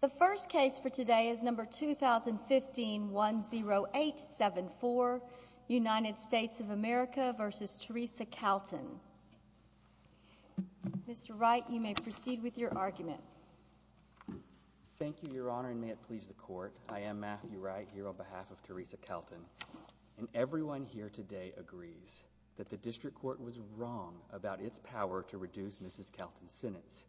The first case for today is number 2015-10874, United States of America v. Theresa Calton. Mr. Wright, you may proceed with your argument. Thank you, Your Honor, and may it please the Court. I am Matthew Wright, here on behalf of Theresa Calton, and everyone here today agrees that the District Court was wrong about its power to reduce Mrs. Calton's sentence.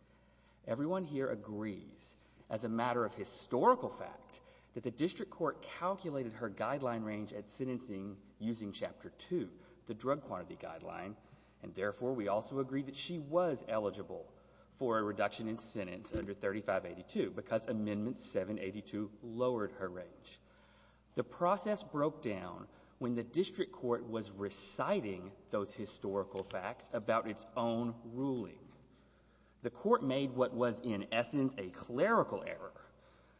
Everyone here agrees, as a matter of historical fact, that the District Court calculated her guideline range at sentencing using Chapter 2, the drug quantity guideline, and therefore we also agree that she was eligible for a reduction in sentence under 3582, because Amendment 782 lowered her range. The process broke down when the District Court was reciting those historical facts about its own ruling. The Court made what was, in essence, a clerical error.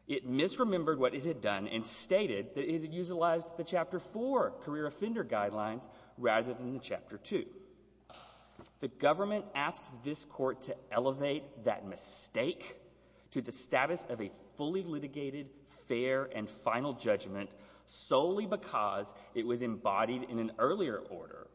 It misremembered what it had done and stated that it had utilized the Chapter 4 career offender guidelines rather than the Chapter 2. The government asks this Court to elevate that mistake to the status of a fully litigated, fair, and final judgment solely because it was embodied in an earlier order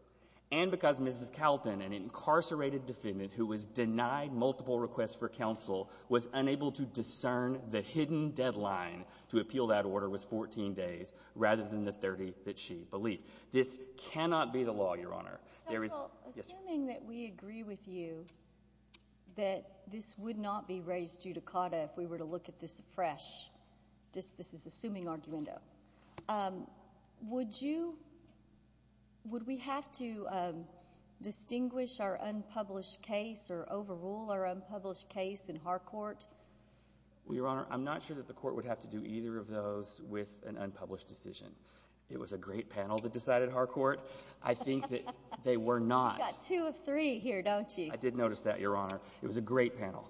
and because Mrs. Calton, an incarcerated defendant who was denied multiple requests for counsel, was unable to discern the hidden deadline to appeal that order was 14 days rather than the 30 that she believed. This cannot be the law, Your Honor. Counsel, assuming that we agree with you that this would not be raised judicata if we were to look at this fresh, just this is assuming, argumento, would you, would we have to distinguish our unpublished case or overrule our unpublished case in Harcourt? Well, Your Honor, I'm not sure that the Court would have to do either of those with an unpublished decision. It was a great panel that decided Harcourt. I think that they were not. You've got two of three here, don't you? I did notice that, Your Honor. It was a great panel.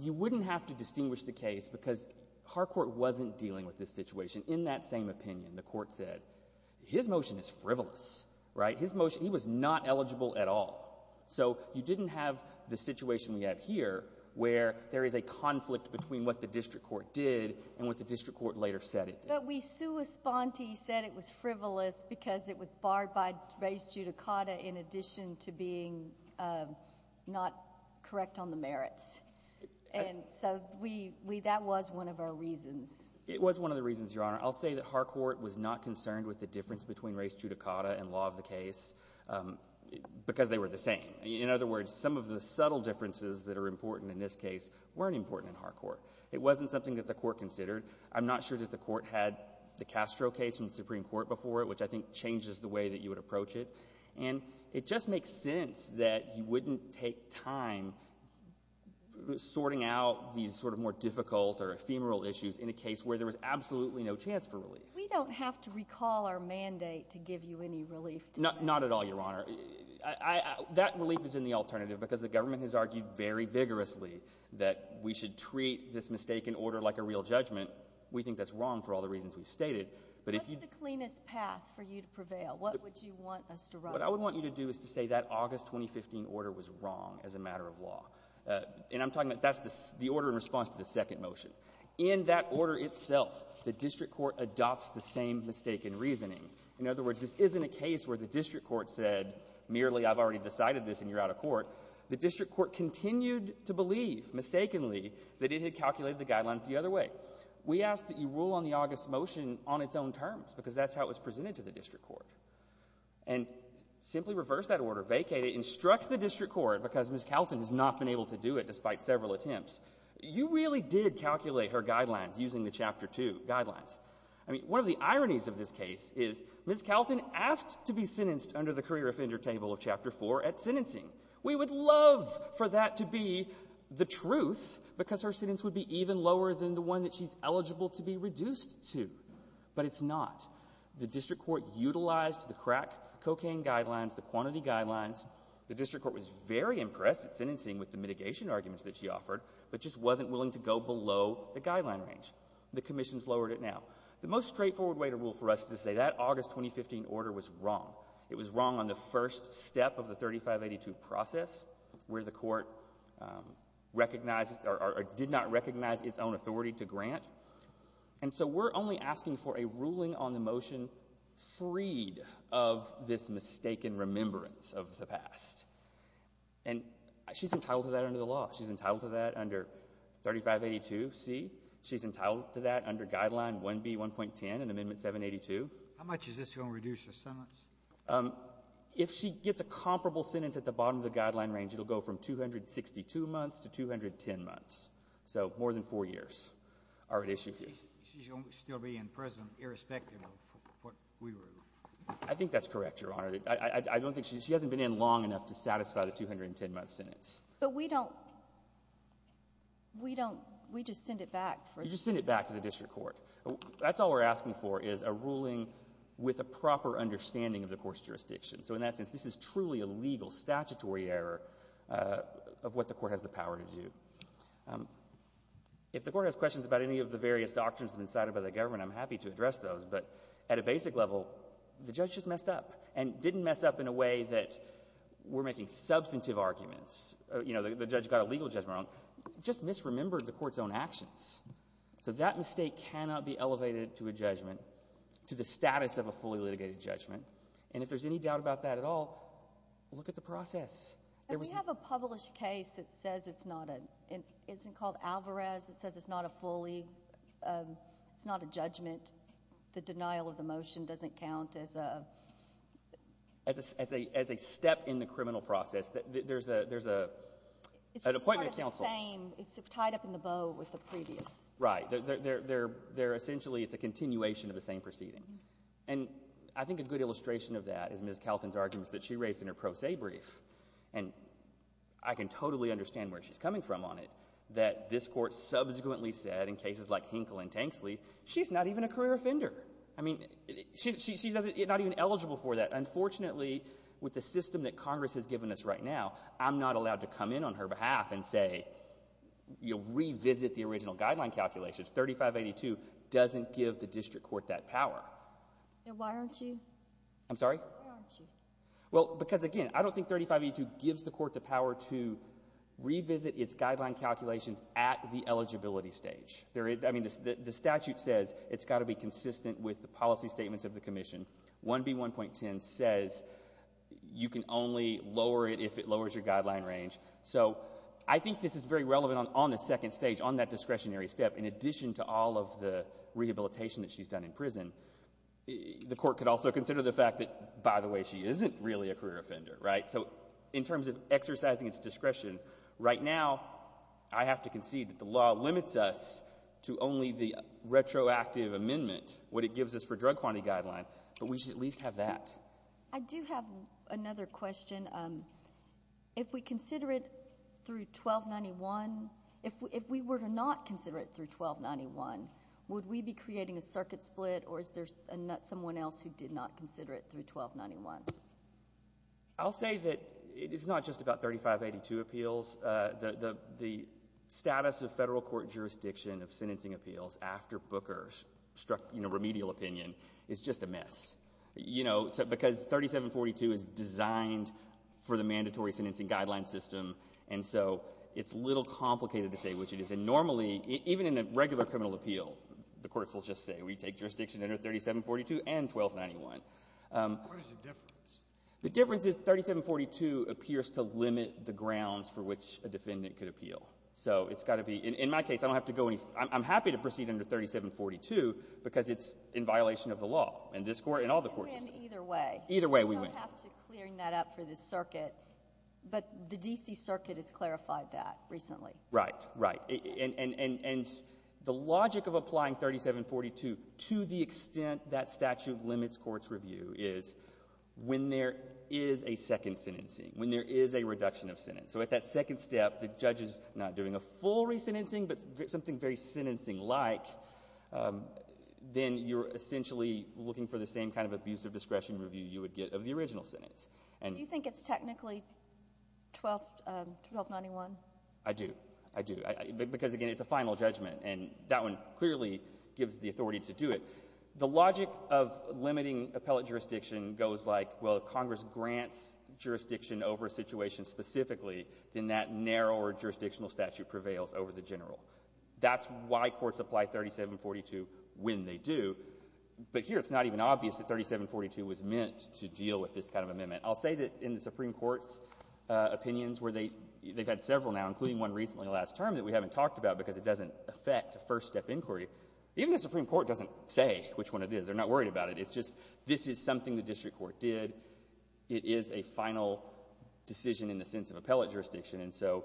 You wouldn't have to distinguish the case because Harcourt wasn't dealing with this situation. In that same opinion, the Court said his motion is frivolous, right? His motion, he was not eligible at all. So you didn't have the situation we have here where there is a conflict between what the District Court did and what the District Court later said it did. But we, sua sponte, said it was frivolous because it was barred by res judicata in addition to being not correct on the merits. And so we, that was one of our reasons. It was one of the reasons, Your Honor. I'll say that Harcourt was not concerned with the difference between res judicata and law of the case because they were the same. In other words, some of the subtle differences that are important in this case weren't important in Harcourt. It wasn't something that the Court considered. I'm not sure that the Court had the Castro case from the Supreme Court before it, which I think changes the way that you would approach it. And it just makes sense that you wouldn't take time sorting out these sort of more difficult or ephemeral issues in a case where there was absolutely no chance for relief. We don't have to recall our mandate to give you any relief. Not at all, Your Honor. That relief is in the alternative because the government has argued very vigorously that we should treat this mistaken order like a real judgment. We think that's wrong for all the reasons we've stated. But if you... What's the cleanest path for you to prevail? What would you want us to write? What I would want you to do is to say that August 2015 order was wrong as a matter of law. And I'm talking about, that's the order in response to the second motion. In that order itself, the District Court adopts the same mistaken reasoning. In other words, this isn't a case where the District Court said merely I've already decided this and you're out of court. The District Court continued to believe mistakenly that it had calculated the guidelines the other way. We ask that you rule on the August motion on its own terms because that's how it was presented to the District Court. And simply reverse that order, vacate it, instruct the District Court, because Ms. Kalten has not been able to do it despite several attempts, you really did calculate her guidelines using the Chapter 2 guidelines. I mean, one of the ironies of this case is Ms. Kalten asked to be sentenced under the career offender table of Chapter 4 at sentencing. We would love for that to be the truth because her sentence would be even lower than the one that she's eligible to be reduced to. But it's not. The District Court utilized the crack cocaine guidelines, the quantity guidelines. The District Court was very impressed at sentencing with the mitigation arguments that she offered, but just wasn't willing to go below the guideline range. The commissions lowered it now. The most straightforward way to rule for us is to say that August 2015 order was wrong. It was wrong on the first step of the 3582 process where the court recognized or did not recognize its own authority to grant. And so we're only asking for a ruling on the motion freed of this mistaken remembrance of the past. And she's entitled to that under the law. She's entitled to that under 3582C. She's entitled to that under Guideline 1B1.10 in Amendment 782. How much is this going to reduce her sentence? If she gets a comparable sentence at the bottom of the guideline range, it'll go from 262 months to 210 months. So more than four years are at issue here. She's still be in prison irrespective of what we rule. I think that's correct, Your Honor. I don't think she hasn't been in long enough to satisfy the 210-month sentence. But we don't, we don't, we just send it back. You just send it back to the District Court. That's all we're asking for is a ruling with a proper understanding of the court's jurisdiction. So in that sense, this is truly a legal statutory error of what the court has the power to do. If the court has questions about any of the various doctrines decided by the government, I'm happy to address those. But at a basic level, the judge just messed up and didn't mess up in a way that we're making substantive arguments. You know, the judge got a legal judgment wrong, just misremembered the court's own actions. So that mistake cannot be elevated to a judgment, to the status of a fully litigated judgment. And if there's any doubt about that at all, look at the process. And we have a published case that says it's not a, it isn't called Alvarez, it says it's not a fully, it's not a judgment. The denial of the motion doesn't count as a, as a, as a step in the criminal process. There's a, there's a, an appointment of counsel. It's the same, it's tied up in the bow with the previous. Right. They're, they're, they're, they're essentially, it's a continuation of the same proceeding. And I think a good illustration of that is Ms. Kelton's arguments that she raised in her pro se brief. And I can totally understand where she's coming from on it, that this court subsequently said in cases like Hinkle and Tanksley, she's not even a career offender. I mean, she's not even eligible for that. Unfortunately, with the system that Congress has given us right now, I'm not allowed to come in on her behalf and say, you know, revisit the original guideline calculations. 3582 doesn't give the district court that power. And why aren't you? I'm sorry? Why aren't you? Well, because again, I don't think 3582 gives the court the power to revisit its guideline calculations at the eligibility stage. There is, I mean, the statute says it's got to be consistent with the policy statements of the commission. 1B1.10 says you can only lower it if it lowers your guideline range. So I think this is very relevant on the second stage, on that discretionary step, in addition to all of the rehabilitation that she's done in prison. The court could also consider the fact that, by the way, she isn't really a career offender, right? So in terms of exercising its discretion, right now I have to concede that the law limits us to only the retroactive amendment, what it gives us for drug quantity guideline. But we should at least have that. I do have another question. If we consider it through 1291, if we were to not consider it through 1291, would we be creating a circuit split, or is there someone else who did not consider it through 1291? I'll say that it is not just about 3582 appeals. The status of federal court jurisdiction of sentencing appeals after Booker's remedial opinion is just a mess. You know, because 3742 is designed for the mandatory sentencing guideline system, and so it's a little complicated to say which it is. And normally, even in a regular criminal appeal, the courts will just say, we take jurisdiction What is the difference? The difference is 3742 appears to limit the grounds for which a defendant could appeal. So it's got to be, in my case, I don't have to go any, I'm happy to proceed under 3742 because it's in violation of the law. And this court, and all the courts. We went either way. Either way we went. We don't have to clear that up for the circuit, but the D.C. circuit has clarified that recently. Right. Right. And the logic of applying 3742 to the extent that statute limits court's review is when there is a second sentencing, when there is a reduction of sentence. So at that second step, the judge is not doing a full re-sentencing, but something very sentencing-like. Then you're essentially looking for the same kind of abuse of discretion review you would get of the original sentence. And you think it's technically 1291? I do. I do. Because, again, it's a final judgment, and that one clearly gives the authority to do it. The logic of limiting appellate jurisdiction goes like, well, if Congress grants jurisdiction over a situation specifically, then that narrower jurisdictional statute prevails over the general. That's why courts apply 3742 when they do. But here it's not even obvious that 3742 was meant to deal with this kind of amendment. I'll say that in the Supreme Court's opinions where they've had several now, including one recently last term that we haven't talked about because it doesn't affect a first-step inquiry. Even the Supreme Court doesn't say which one it is. They're not worried about it. It's just this is something the district court did. It is a final decision in the sense of appellate jurisdiction. And so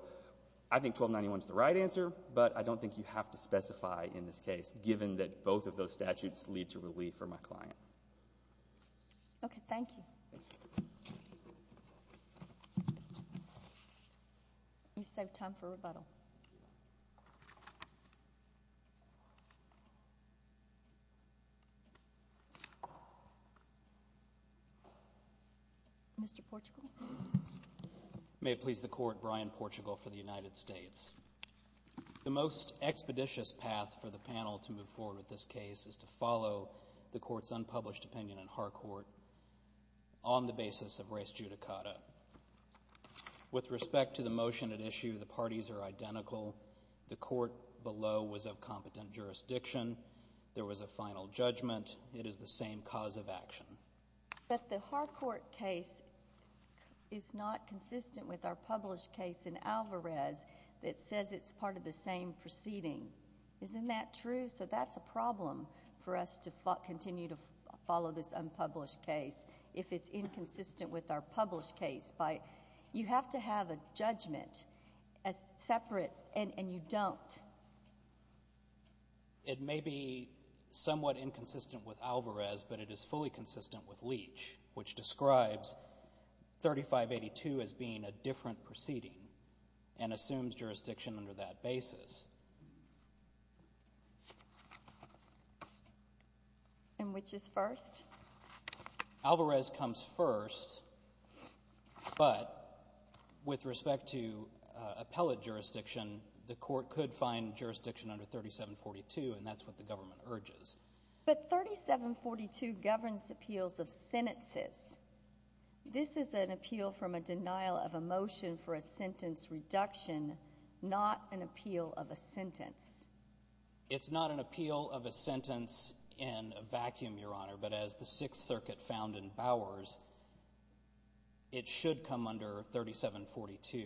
I think 1291 is the right answer, but I don't think you have to specify in this case, given that both of those statutes lead to relief for my client. Okay. Thank you. Thanks. You've saved time for rebuttal. Mr. Portugal? May it please the Court, Brian Portugal for the United States. The most expeditious path for the panel to move forward with this case is to follow the With respect to the motion at issue, the parties are identical. The court below was of competent jurisdiction. There was a final judgment. It is the same cause of action. But the Harcourt case is not consistent with our published case in Alvarez that says it's part of the same proceeding. Isn't that true? So that's a problem for us to continue to follow this unpublished case if it's inconsistent with our published case. You have to have a judgment as separate, and you don't. It may be somewhat inconsistent with Alvarez, but it is fully consistent with Leach, which describes 3582 as being a different proceeding and assumes jurisdiction under that basis. And which is first? Alvarez comes first, but with respect to appellate jurisdiction, the court could find jurisdiction under 3742, and that's what the government urges. But 3742 governs appeals of sentences. This is an appeal from a denial of a motion for a sentence reduction, not an appeal of a sentence. It's not an appeal of a sentence in a vacuum, Your Honor, but as the Sixth Circuit found in Bowers, it should come under 3742.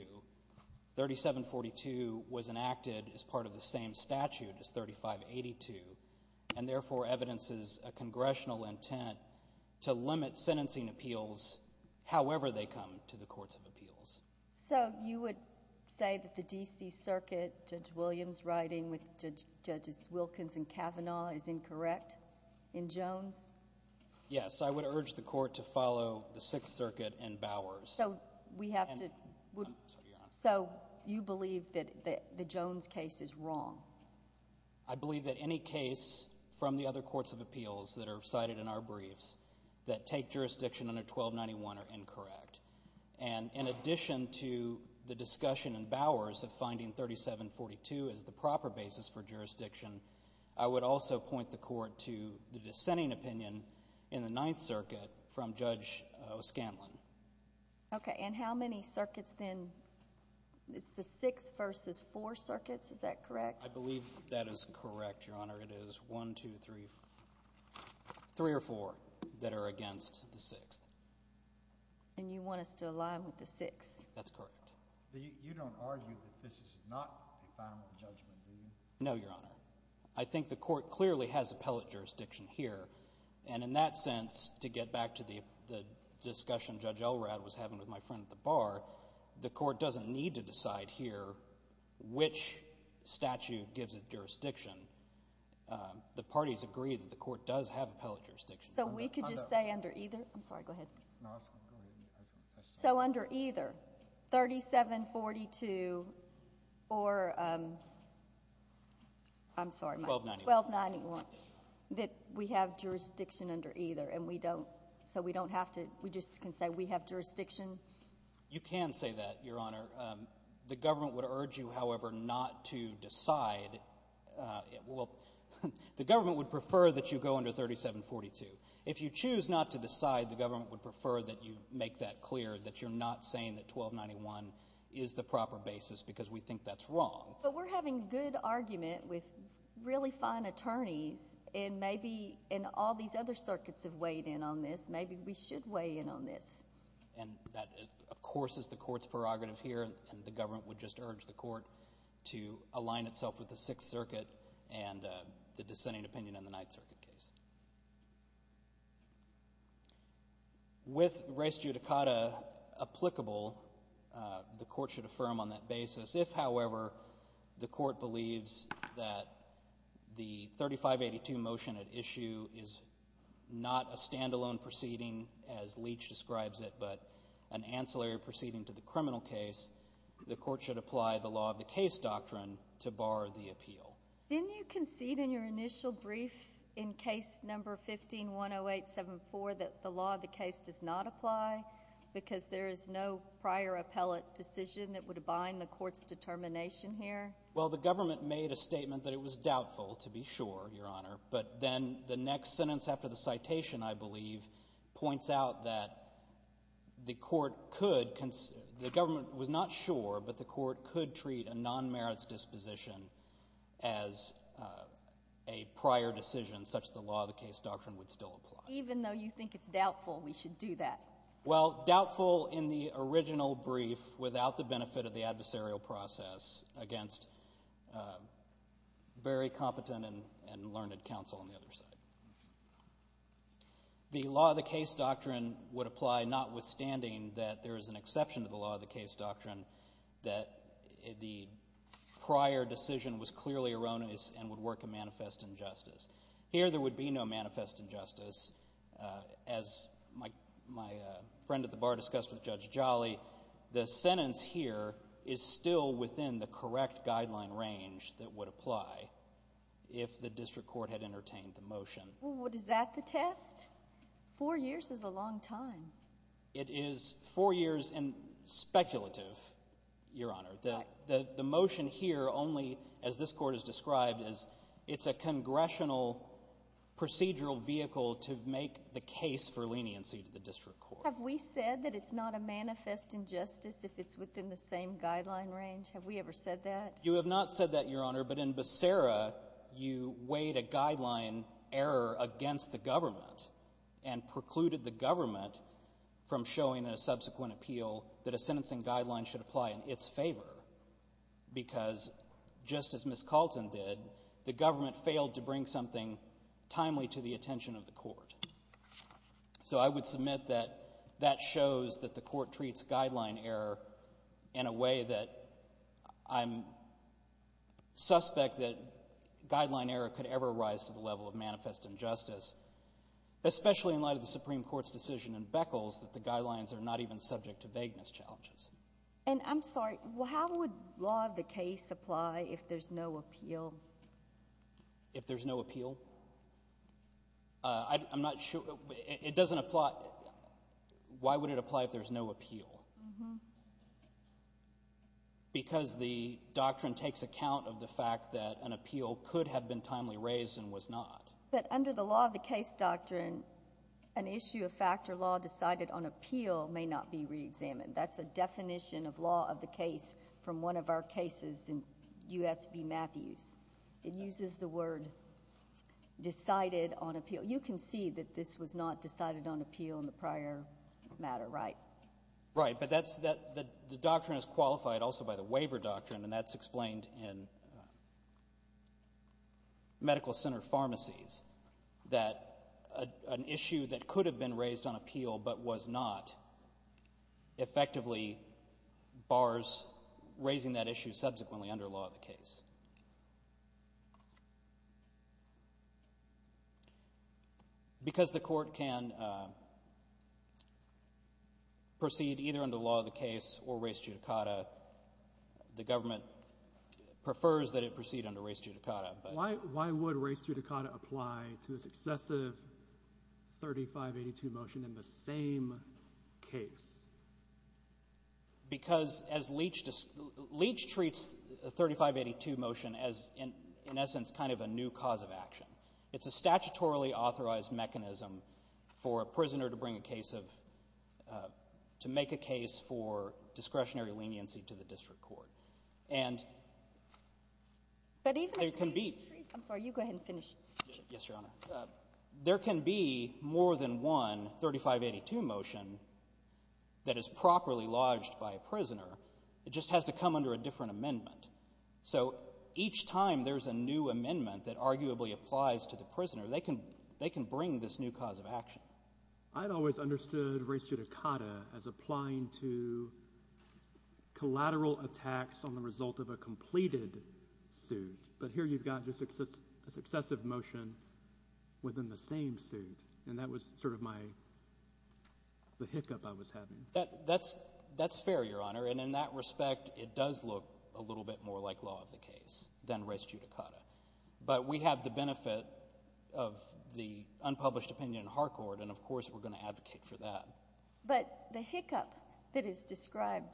3742 was enacted as part of the same statute as 3582, and therefore evidences a congressional intent to limit sentencing appeals however they come to the courts of appeals. So you would say that the D.C. Circuit, Judge Williams writing with Judges Wilkins and Kavanaugh, is incorrect in Jones? Yes. I would urge the court to follow the Sixth Circuit and Bowers. So we have to — I'm sorry, Your Honor. So you believe that the Jones case is wrong? I believe that any case from the other courts of appeals that are cited in our briefs that take jurisdiction under 1291 are incorrect. And in addition to the discussion in Bowers of finding 3742 as the proper basis for jurisdiction, I would also point the court to the dissenting opinion in the Ninth Circuit from Judge O'Scanlan. Okay. And how many circuits then — it's the Sixth versus Four Circuits, is that correct? I believe that is correct, Your Honor. It is one, two, three — three or four that are against the Sixth. And you want us to align with the Sixth? That's correct. You don't argue that this is not a final judgment, do you? No, Your Honor. I think the court clearly has appellate jurisdiction here, and in that sense, to get back to the discussion Judge Elrod was having with my friend at the bar, the court doesn't need to decide here which statute gives it jurisdiction. The parties agree that the court does have appellate jurisdiction. So we could just say under either — I'm sorry, go ahead. So under either 3742 or — I'm sorry, 1291 — that we have jurisdiction under either, and we don't — so we don't have to — we just can say we have jurisdiction? You can say that, Your Honor. The government would urge you, however, not to decide — well, the government would prefer that you go under 3742. If you choose not to decide, the government would prefer that you make that clear, that you're not saying that 1291 is the proper basis because we think that's wrong. But we're having a good argument with really fine attorneys, and maybe — and all these other circuits have weighed in on this. Maybe we should weigh in on this. And that, of course, is the court's prerogative here, and the government would just urge the case. With res judicata applicable, the court should affirm on that basis, if, however, the court believes that the 3582 motion at issue is not a standalone proceeding, as Leach describes it, but an ancillary proceeding to the criminal case, the court should apply the law-of-the-case doctrine to bar the appeal. Didn't you concede in your initial brief in case number 15-10874 that the law-of-the-case does not apply because there is no prior appellate decision that would bind the court's determination here? Well, the government made a statement that it was doubtful, to be sure, Your Honor. But then the next sentence after the citation, I believe, points out that the court could The government was not sure, but the court could treat a non-merits disposition as a prior decision, such the law-of-the-case doctrine would still apply. Even though you think it's doubtful, we should do that. Well, doubtful in the original brief, without the benefit of the adversarial process, against very competent and learned counsel on the other side. The law-of-the-case doctrine would apply notwithstanding that there is an exception to the law-of-the-case doctrine that the prior decision was clearly erroneous and would work a manifest injustice. Here there would be no manifest injustice. As my friend at the bar discussed with Judge Jolly, the sentence here is still within the Well, is that the test? Four years is a long time. It is four years and speculative, Your Honor. The motion here only, as this court has described, is it's a congressional procedural vehicle to make the case for leniency to the district court. Have we said that it's not a manifest injustice if it's within the same guideline range? Have we ever said that? You have not said that, Your Honor, but in Becerra, you weighed a guideline error against the government and precluded the government from showing in a subsequent appeal that a sentencing guideline should apply in its favor because, just as Ms. Calton did, the government failed to bring something timely to the attention of the court. So I would submit that that shows that the court treats guideline error in a way that I'm suspect that guideline error could ever rise to the level of manifest injustice, especially in light of the Supreme Court's decision in Beckles that the guidelines are not even subject to vagueness challenges. And I'm sorry, how would law of the case apply if there's no appeal? If there's no appeal? I'm not sure. It doesn't apply. Why would it apply if there's no appeal? Because the doctrine takes account of the fact that an appeal could have been timely raised and was not. But under the law of the case doctrine, an issue of fact or law decided on appeal may not be reexamined. That's a definition of law of the case from one of our cases in U.S. v. Matthews. It uses the word decided on appeal. You can see that this was not decided on appeal in the prior matter, right? Right. But that's that the doctrine is qualified also by the waiver doctrine, and that's explained in medical center pharmacies, that an issue that could have been raised on appeal but was not effectively bars raising that issue subsequently under law of the case. Because the court can proceed either under law of the case or res judicata, the government prefers that it proceed under res judicata. Why would res judicata apply to a successive 3582 motion in the same case? Because as Leach treats the 3582 motion as, in essence, kind of a new cause of action. It's a statutorily authorized mechanism for a prisoner to bring a case of to make a case for discretionary leniency to the district court. And there can be — But even if — I'm sorry. You go ahead and finish. Yes, Your Honor. There can be more than one 3582 motion that is properly lodged by a prisoner. It just has to come under a different amendment. So each time there's a new amendment that arguably applies to the prisoner, they can bring this new cause of action. I've always understood res judicata as applying to collateral attacks on the result of a completed suit. But here you've got just a successive motion within the same suit. And that was sort of my — the hiccup I was having. That's fair, Your Honor. And in that respect, it does look a little bit more like law of the case than res judicata. But we have the benefit of the unpublished opinion in Harcourt. And, of course, we're going to advocate for that. But the hiccup that is described,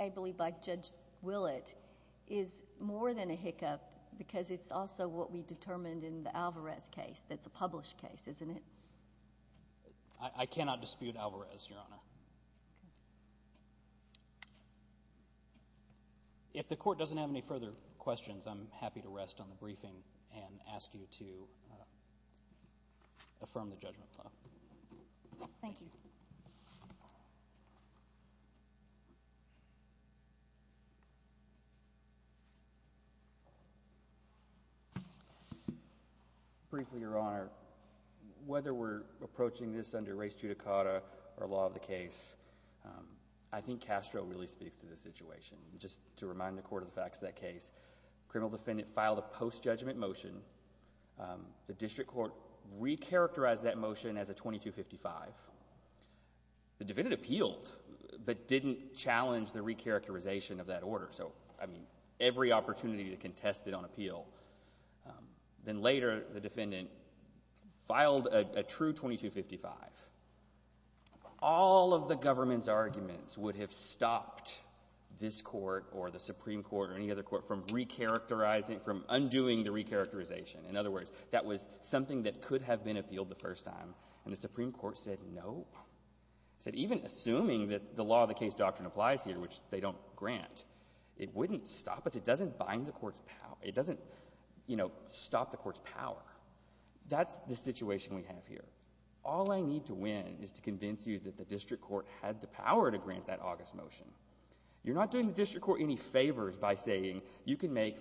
I believe, by Judge Willett is more than a hiccup because it's also what we determined in the Alvarez case. That's a published case, isn't it? I cannot dispute Alvarez, Your Honor. Okay. If the Court doesn't have any further questions, I'm happy to rest on the briefing and ask you to affirm the judgment. Thank you. Briefly, Your Honor, whether we're approaching this under res judicata or law of the case, I think Castro really speaks to the situation. And just to remind the Court of the facts of that case, the criminal defendant filed a post-judgment motion. The district court recharacterized that motion as a 2255. The defendant appealed but didn't challenge the recharacterization of that order. So, I mean, every opportunity to contest it on appeal. Then later, the defendant filed a true 2255. All of the government's arguments would have stopped this Court or the Supreme Court or In other words, that was something that could have been appealed the first time. And the Supreme Court said, no. It said, even assuming that the law of the case doctrine applies here, which they don't grant, it wouldn't stop us. It doesn't bind the Court's power. It doesn't, you know, stop the Court's power. That's the situation we have here. All I need to win is to convince you that the district court had the power to grant that August motion. You're not doing the district court any favors by saying you can make,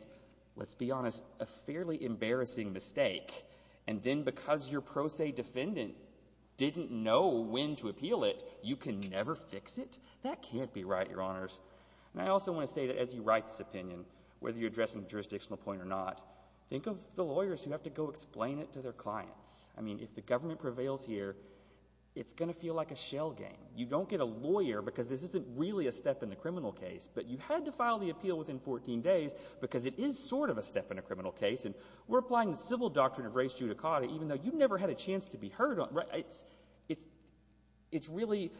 let's be honest, a fairly embarrassing mistake. And then because your pro se defendant didn't know when to appeal it, you can never fix it? That can't be right, Your Honors. And I also want to say that as you write this opinion, whether you're addressing a jurisdictional point or not, think of the lawyers who have to go explain it to their clients. I mean, if the government prevails here, it's going to feel like a shell game. You don't get a lawyer because this isn't really a step in the criminal case, but you had to file the appeal within 14 days because it is sort of a step in a criminal case, and we're applying the civil doctrine of res judicata even though you never had a chance to be heard on. It's really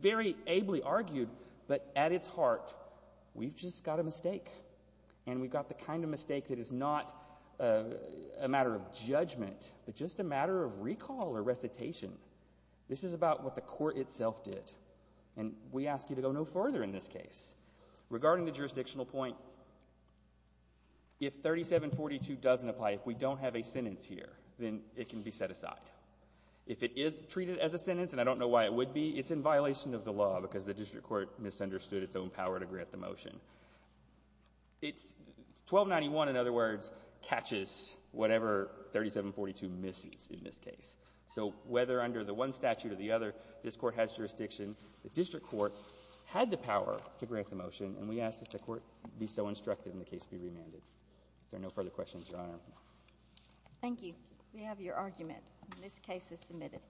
very ably argued, but at its heart, we've just got a mistake. And we've got the kind of mistake that is not a matter of judgment, but just a matter of recall or recitation. This is about what the Court itself did. And we ask you to go no further in this case. Regarding the jurisdictional point, if 3742 doesn't apply, if we don't have a sentence here, then it can be set aside. If it is treated as a sentence, and I don't know why it would be, it's in violation of the law because the district court misunderstood its own power to grant the motion. 1291, in other words, catches whatever 3742 misses in this case. So whether under the one statute or the other, this Court has jurisdiction, the district court had the power to grant the motion, and we ask that the Court be so instructed and the case be remanded. If there are no further questions, Your Honor. Thank you. We have your argument. This case is submitted.